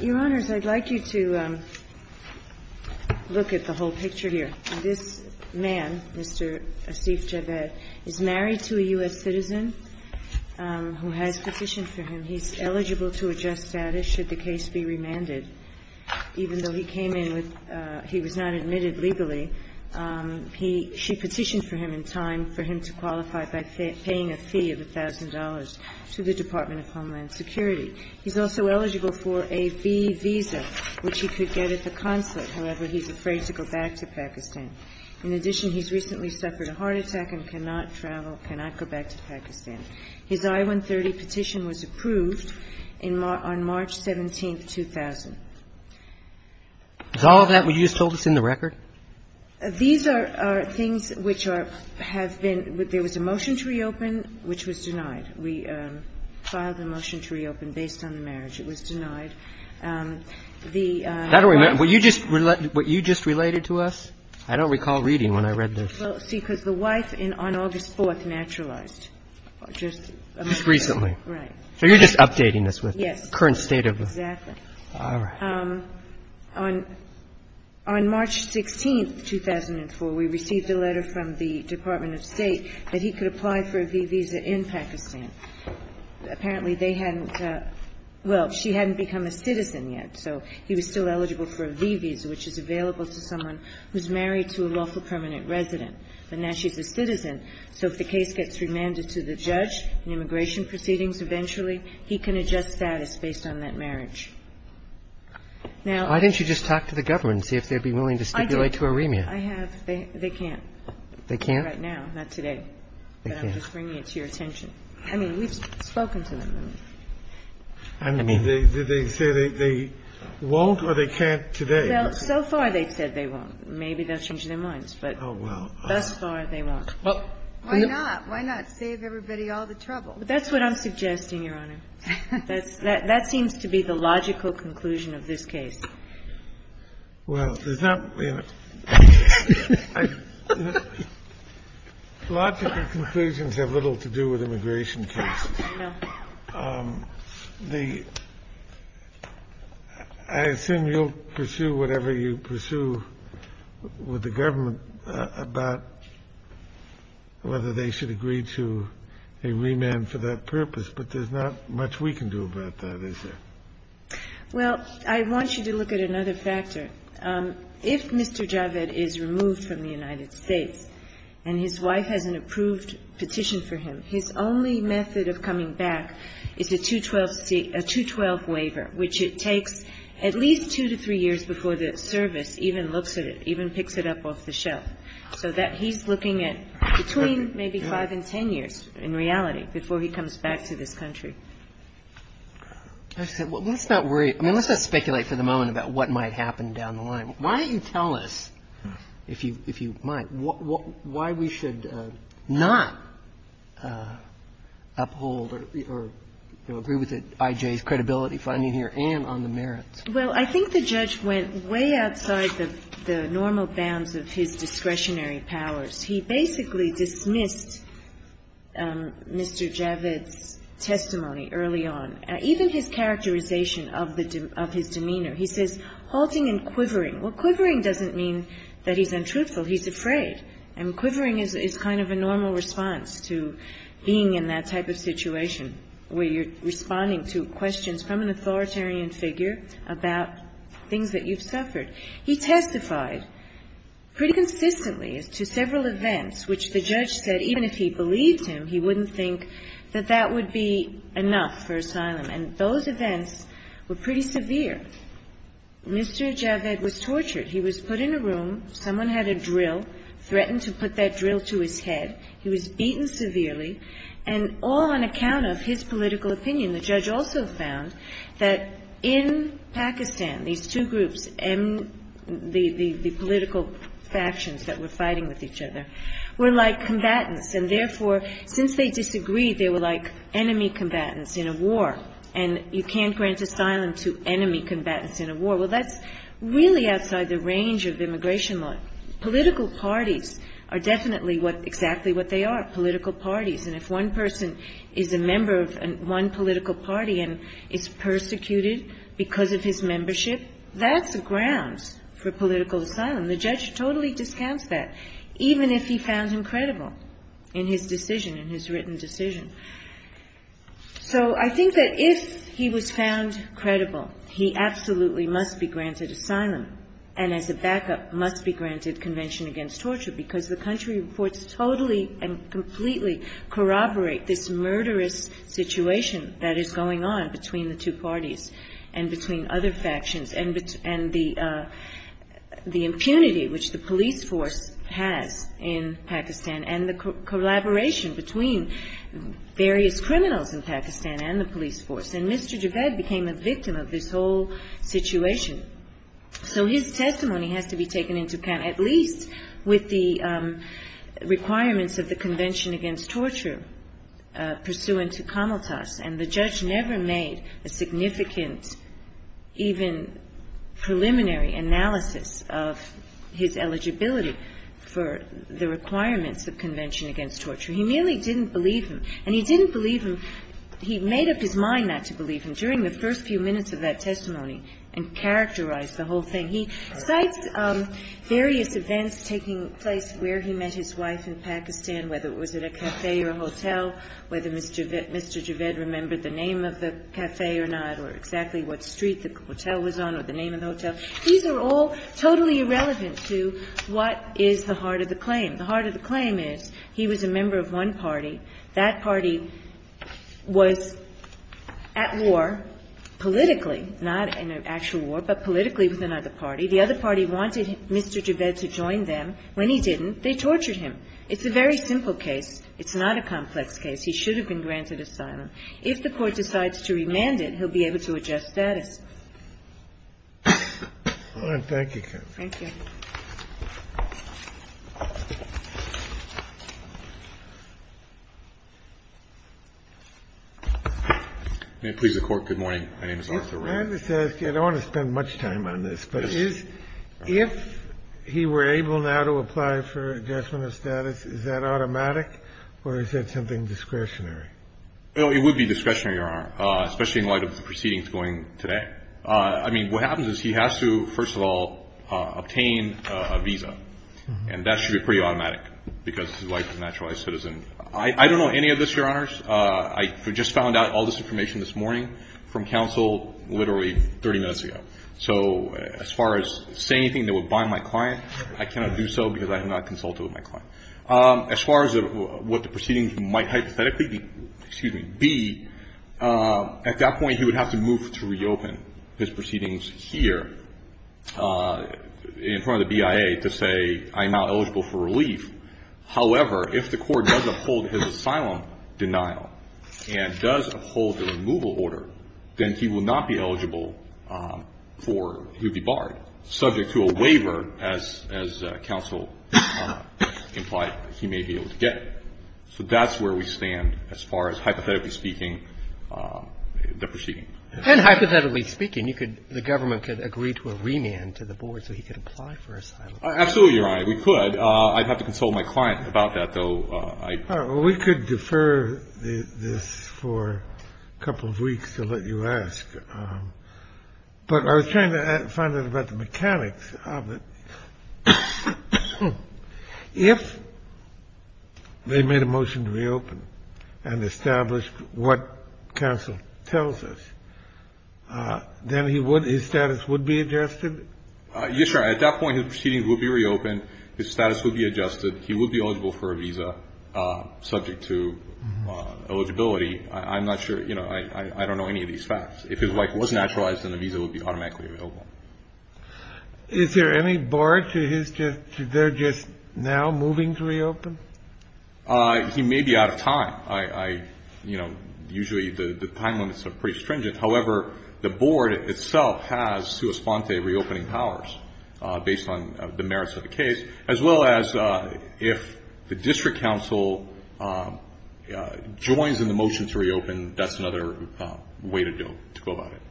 Your Honors, I would like you to look at the whole picture here. This man, Mr. Asif Javed, is married to a U.S. citizen who has petitioned for him. He is eligible to adjust status should the case be remanded, even though he came in with – he was not admitted legally. He – she petitioned for him in time for him to qualify by paying a fee of $1,000 to the Department of Homeland Security. He's also eligible for a B visa, which he could get at the consulate. However, he's afraid to go back to Pakistan. In addition, he's recently suffered a heart attack and cannot travel, cannot go back to Pakistan. His I-130 petition was approved in – on March 17th, 2000. Is all of that what you just told us in the record? These are things which are – have been – there was a motion to reopen, which was denied. We filed a motion to reopen based on the marriage. It was denied. The – I don't remember. What you just – what you just related to us, I don't recall reading when I read this. Well, see, because the wife in – on August 4th naturalized, just a month ago. Just recently. Right. So you're just updating us with the current state of the – Yes, exactly. All right. On March 16th, 2004, we received a letter from the Department of State that he could apply for a V visa in Pakistan. Apparently, they hadn't – well, she hadn't become a citizen yet, so he was still eligible for a V visa, which is available to someone who's married to a lawful permanent resident. But now she's a citizen, so if the case gets remanded to the judge in immigration proceedings eventually, he can adjust status based on that marriage. Now – Why didn't you just talk to the government and see if they'd be willing to stipulate to a remand? I have. They can't. They can't? Right now, not today. They can't. But I'm just bringing it to your attention. I mean, we've spoken to them. I mean, they say they won't or they can't today. So far, they've said they won't. Maybe they'll change their minds, but thus far, they won't. Why not? Why not save everybody all the trouble? That's what I'm suggesting, Your Honor. That seems to be the logical conclusion of this case. Well, there's not – logical conclusions have little to do with immigration cases. No. The – I assume you'll pursue whatever you pursue with the government about whether they should agree to a remand for that purpose. But there's not much we can do about that, is there? Well, I want you to look at another factor. If Mr. Javed is removed from the United States and his wife has an approved petition for him, his only method of coming back is a 212 waiver, which it takes at least two to three years before the service even looks at it, even picks it up off the shelf, so that he's looking at between maybe 5 and 10 years in reality before he comes back to this country. Let's not worry – I mean, let's not speculate for the moment about what might happen down the line. Why don't you tell us, if you might, why we should not uphold or, you know, agree with I.J.'s credibility finding here and on the merits? Well, I think the judge went way outside the normal bounds of his discretionary powers. He basically dismissed Mr. Javed's testimony early on. Even his characterization of his demeanor. He says halting and quivering. Well, quivering doesn't mean that he's untruthful. He's afraid. And quivering is kind of a normal response to being in that type of situation where you're responding to questions from an authoritarian figure about things that you've suffered. He testified pretty consistently to several events which the judge said even if he believed him, he wouldn't think that that would be enough for asylum. And those events were pretty severe. Mr. Javed was tortured. He was put in a room. Someone had a drill, threatened to put that drill to his head. He was beaten severely, and all on account of his political opinion. The judge also found that in Pakistan, these two groups, the political factions that were fighting with each other, were like combatants. And therefore, since they disagreed, they were like enemy combatants in a war. And you can't grant asylum to enemy combatants in a war. Well, that's really outside the range of immigration law. Political parties are definitely what they are, political parties. And if one person is a member of one political party and is persecuted because of his membership, that's a ground for political asylum. The judge totally discounts that, even if he found him credible in his decision, in his written decision. So I think that if he was found credible, he absolutely must be granted asylum and as a backup must be granted Convention Against Torture, because the country reports totally and completely corroborate this murderous situation that is going on between the two parties and between other factions. And the impunity which the police force has in Pakistan and the collaboration between various criminals in Pakistan and the police force. And Mr. Javed became a victim of this whole situation. So his testimony has to be taken into account, at least with the requirements of the Convention Against Torture, pursuant to Comaltas. And the judge never made a significant even preliminary analysis of his eligibility for the requirements of Convention Against Torture. He merely didn't believe him. And he didn't believe him. He made up his mind not to believe him during the first few minutes of that testimony and characterized the whole thing. He cites various events taking place where he met his wife in Pakistan, whether it was at a cafe or a hotel, whether Mr. Javed remembered the name of the cafe or not or exactly what street the hotel was on or the name of the hotel. These are all totally irrelevant to what is the heart of the claim. The heart of the claim is he was a member of one party. That party was at war politically, not in an actual war, but politically with another party. The other party wanted Mr. Javed to join them. When he didn't, they tortured him. It's a very simple case. It's not a complex case. He should have been granted asylum. If the Court decides to remand it, he'll be able to adjust status. Thank you. May it please the Court. Good morning. My name is Arthur Rand. I want to spend much time on this. If he were able now to apply for adjustment of status, is that automatic or is that something discretionary? It would be discretionary, Your Honor, especially in light of the proceedings going today. I mean, what happens is he has to, first of all, obtain a visa, and that should be pretty automatic because his wife is a naturalized citizen. I don't know any of this, Your Honors. I just found out all this information this morning from counsel literally 30 minutes ago. So as far as saying anything that would bind my client, I cannot do so because I have not consulted with my client. As far as what the proceedings might hypothetically be, at that point, he would have to move to reopen his proceedings here in front of the BIA to say, I am now eligible for relief. However, if the Court does uphold his asylum denial and does uphold the removal order, then he will not be eligible for to be barred, subject to a waiver, as counsel implied, he may be able to get. So that's where we stand as far as, hypothetically speaking, the proceedings. And hypothetically speaking, the government could agree to a remand to the board so he could apply for asylum. Absolutely, Your Honor, we could. I'd have to consult my client about that, though. We could defer this for a couple of weeks to let you ask. But I was trying to find out about the mechanics of it. If they made a motion to reopen and established what counsel tells us, then his status would be adjusted? Yes, Your Honor. At that point, his proceedings would be reopened. His status would be adjusted. He would be eligible for a visa, subject to eligibility. I'm not sure. You know, I don't know any of these facts. If his life was naturalized, then the visa would be automatically available. Is there any bar to his, to their just now moving to reopen? He may be out of time. I, you know, usually the time limits are pretty stringent. However, the board itself has sua sponte reopening powers, based on the merits of the case, as well as if the district counsel joins in the motion to reopen, that's another way to go about it.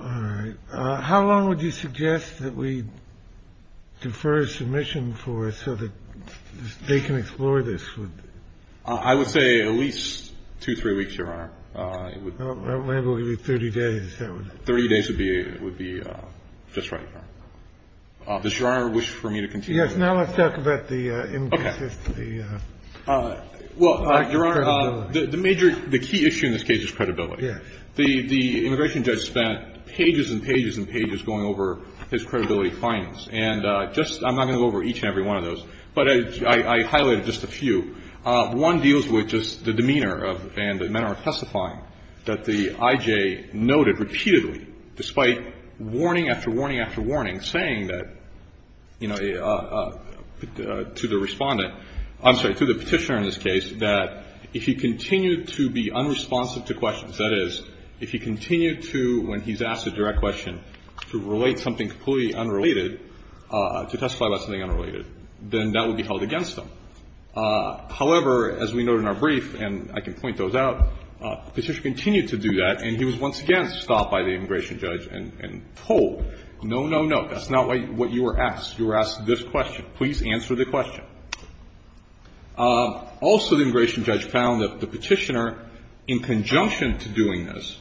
All right. How long would you suggest that we defer a submission for so that they can explore this? I would say at least two, three weeks, Your Honor. Maybe we'll give you 30 days. Thirty days would be just right, Your Honor. Does Your Honor wish for me to continue? Yes. Now let's talk about the implicit. Okay. Well, Your Honor, the major, the key issue in this case is credibility. Yes. The immigration judge spent pages and pages and pages going over his credibility And just, I'm not going to go over each and every one of those. But I highlighted just a few. One deals with just the demeanor and the manner of testifying that the IJ noted repeatedly, despite warning after warning after warning, saying that, you know, to the respondent, I'm sorry, to the petitioner in this case, that if he continued to be unresponsive to questions, that is, if he continued to, when he's asked a direct question, to relate something completely unrelated, to testify about something unrelated, then that would be held against him. However, as we noted in our brief, and I can point those out, the petitioner continued to do that, and he was once again stopped by the immigration judge and told, no, no, no, that's not what you were asked. You were asked this question. Please answer the question. Also, the immigration judge found that the petitioner, in conjunction to doing this,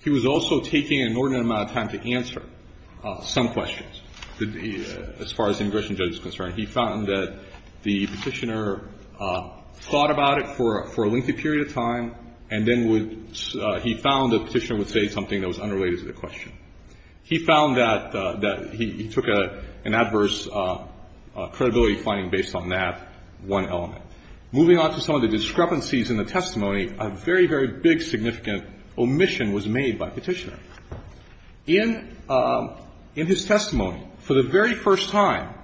he was also taking an inordinate amount of time to answer some questions, as far as the immigration judge is concerned. He found that the petitioner thought about it for a lengthy period of time, and then he found the petitioner would say something that was unrelated to the question. He found that he took an adverse credibility finding based on that one element. Moving on to some of the discrepancies in the testimony, a very, very big significant omission was made by the petitioner. In his testimony, for the very first time,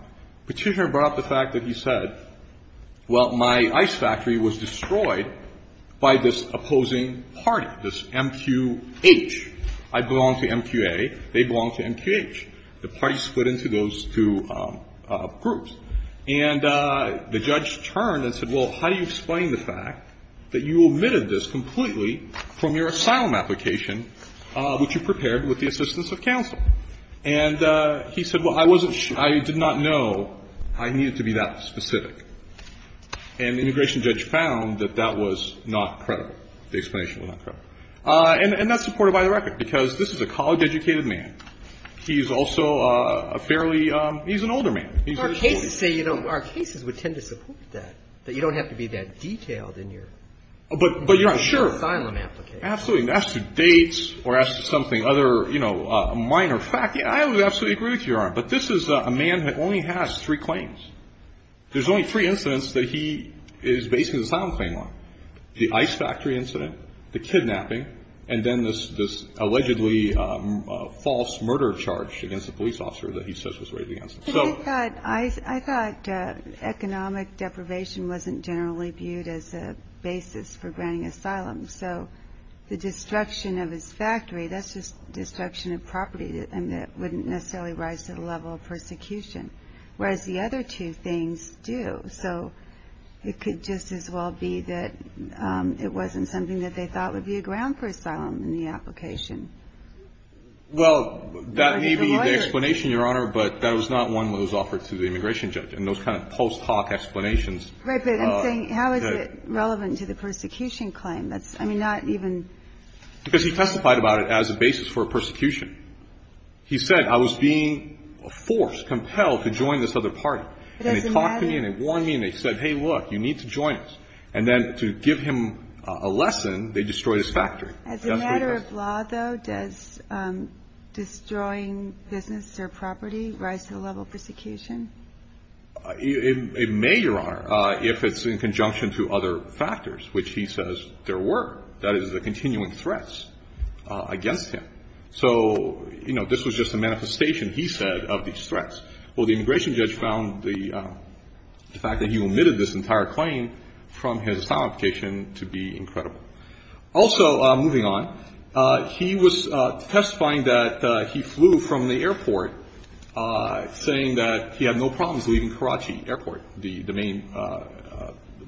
the petitioner brought up the fact that he said, well, my ice factory was destroyed by this opposing party, this MQH. I belong to MQA. They belong to MQH. The parties split into those two groups. And the judge turned and said, well, how do you explain the fact that you omitted this completely from your asylum application, which you prepared with the assistance of counsel? And he said, well, I wasn't sure. I did not know I needed to be that specific. And the immigration judge found that that was not credible. The explanation was not credible. And that's supported by the record, because this is a college-educated man. He's also a fairly ‑‑ he's an older man. He's ‑‑ Our cases say you don't ‑‑ our cases would tend to support that, that you don't have to be that detailed in your ‑‑ But you're not sure. ‑‑ in your asylum application. Absolutely. And as to dates or as to something other, you know, a minor fact, I would absolutely agree with you, Your Honor. But this is a man that only has three claims. There's only three incidents that he is basing his asylum claim on, the ice factory incident, the kidnapping, and then this allegedly false murder charge against a police officer that he says was raised against him. But I thought economic deprivation wasn't generally viewed as a basis for granting asylum. So the destruction of his factory, that's just destruction of property, and it wouldn't necessarily rise to the level of persecution, whereas the other two things do. So it could just as well be that it wasn't something that they thought would be a ground for asylum in the application. Well, that may be the explanation, Your Honor, but that was not one that was offered to the immigration judge in those kind of post‑talk explanations. Right, but I'm saying how is it relevant to the persecution claim? That's, I mean, not even ‑‑ Because he testified about it as a basis for persecution. He said, I was being forced, compelled to join this other party. And they talked to me and they warned me and they said, hey, look, you need to join us. And then to give him a lesson, they destroyed his factory. As a matter of law, though, does destroying business or property rise to the level of persecution? It may, Your Honor, if it's in conjunction to other factors, which he says there were. That is, the continuing threats against him. So, you know, this was just a manifestation, he said, of these threats. Well, the immigration judge found the fact that he omitted this entire claim from his asylum application to be incredible. Also, moving on, he was testifying that he flew from the airport, saying that he had no problems leaving Karachi Airport, the main,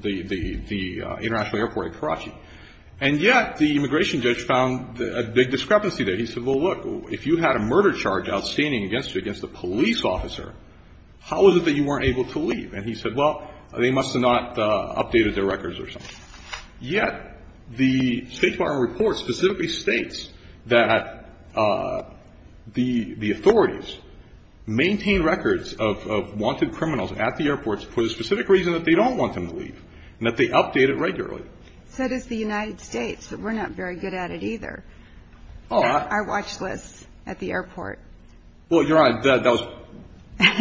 the international airport in Karachi. And yet the immigration judge found a big discrepancy there. He said, well, look, if you had a murder charge outstanding against you against a police officer, how is it that you weren't able to leave? And he said, well, they must have not updated their records or something. Yet the State Department report specifically states that the authorities maintain records of wanted criminals at the airports for the specific reason that they don't want them to leave and that they update it regularly. So does the United States. We're not very good at it either. Our watch list at the airport. Well, Your Honor, that was,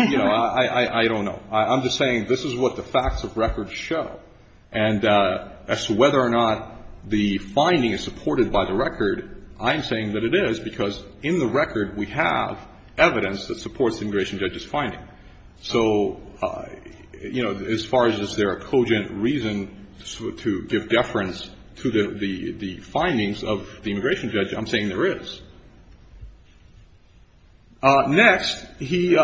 you know, I don't know. I'm just saying this is what the facts of record show. And as to whether or not the finding is supported by the record, I'm saying that it is, So, you know, as far as is there a cogent reason to give deference to the findings of the immigration judge, I'm saying there is. Next, he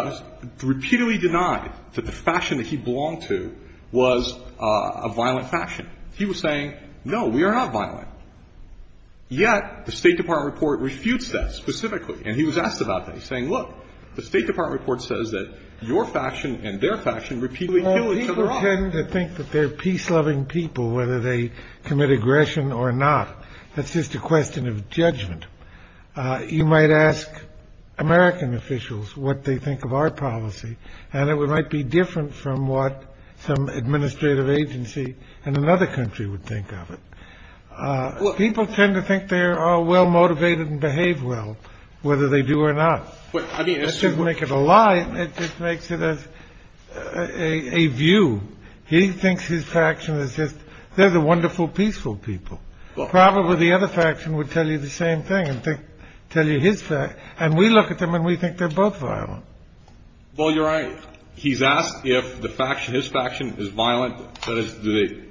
repeatedly denied that the fashion that he belonged to was a violent fashion. He was saying, no, we are not violent. Yet the State Department report refutes that specifically. And he was asked about that, saying, look, the State Department report says that your fashion and their fashion repeatedly. People tend to think that they're peace loving people, whether they commit aggression or not. That's just a question of judgment. You might ask American officials what they think of our policy. And it might be different from what some administrative agency in another country would think of it. People tend to think they're well-motivated and behave well, whether they do or not. I mean, I didn't make it a lie. It just makes it as a view. He thinks his faction is just they're the wonderful, peaceful people. Probably the other faction would tell you the same thing and tell you his. And we look at them and we think they're both violent. Well, you're right. He's asked if the faction, his faction is violent. That is, do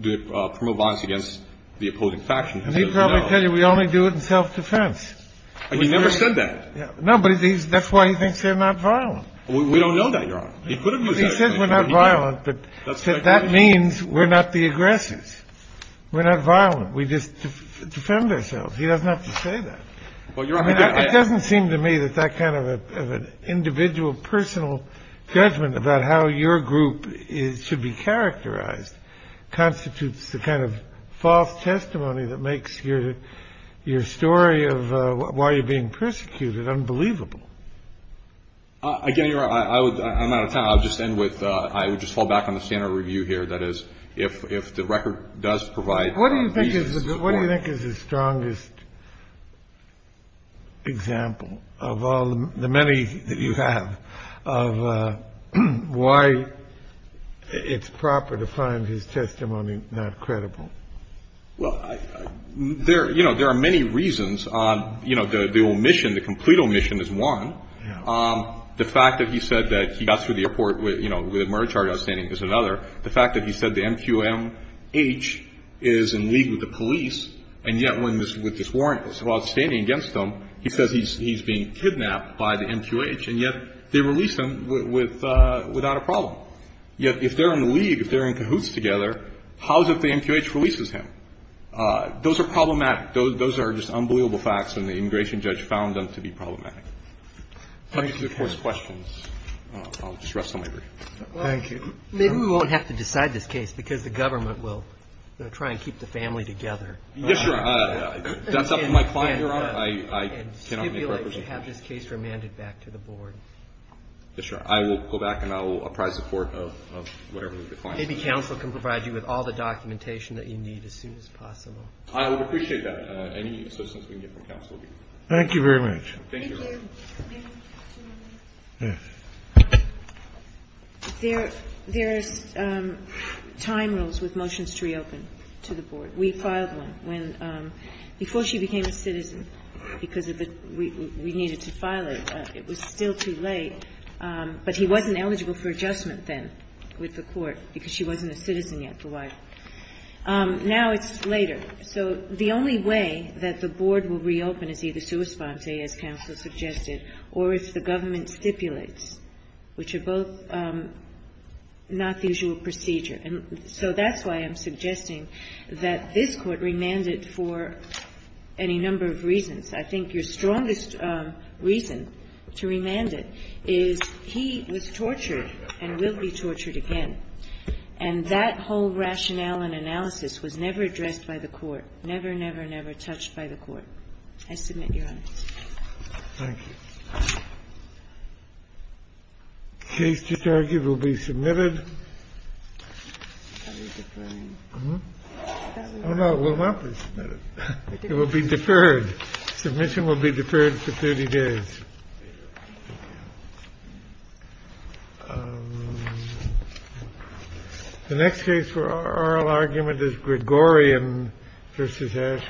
they promote violence against the opposing faction? And he'd probably tell you we only do it in self-defense. He never said that. No, but that's why he thinks they're not violent. We don't know that, Your Honor. He could have used that. He said we're not violent, but that means we're not the aggressors. We're not violent. We just defend ourselves. He doesn't have to say that. Well, you're right. It doesn't seem to me that that kind of an individual personal judgment about how your group should be characterized constitutes the kind of false testimony that makes your story of why you're being persecuted unbelievable. Again, Your Honor, I'm out of time. I'll just end with I would just fall back on the standard review here. That is, if the record does provide reasons. What do you think is the strongest example of all the many that you have of why it's proper to find his testimony not credible? Well, there are many reasons. The omission, the complete omission is one. The fact that he said that he got through the report with a murder charge outstanding is another. The fact that he said the MQMH is in league with the police, and yet with this warrant that's outstanding against him, he says he's being kidnapped by the MQH, and yet they release him without a problem. Yet if they're in league, if they're in cahoots together, how is it the MQH releases him? Those are problematic. Those are just unbelievable facts, and the immigration judge found them to be problematic. I think there's, of course, questions. I'll just rest on my break. Thank you. Maybe we won't have to decide this case because the government will try and keep the family together. Yes, Your Honor. That's up to my client, Your Honor. I cannot make representations. And stipulate that you have this case remanded back to the board. Yes, Your Honor. I will go back and I will apply support of whatever the client says. Maybe counsel can provide you with all the documentation that you need as soon as possible. I would appreciate that. Any assistance we can get from counsel would be great. Thank you very much. Thank you. There's time rules with motions to reopen to the board. We filed one when, before she became a citizen, because we needed to file it. It was still too late. But he wasn't eligible for adjustment then with the court because she wasn't a citizen yet, the wife. Now it's later. So the only way that the board will reopen is either sui sponte, as counsel suggested, or if the government stipulates, which are both not the usual procedure. And so that's why I'm suggesting that this Court remand it for any number of reasons. I think your strongest reason to remand it is he was tortured and will be tortured again. And that whole rationale and analysis was never addressed by the court, never, never, never touched by the court. I submit, Your Honor. Thank you. Case to target will be submitted. It will be deferred. Submission will be deferred for 30 days. The next case for oral argument is Gregorian v. Ashcroft.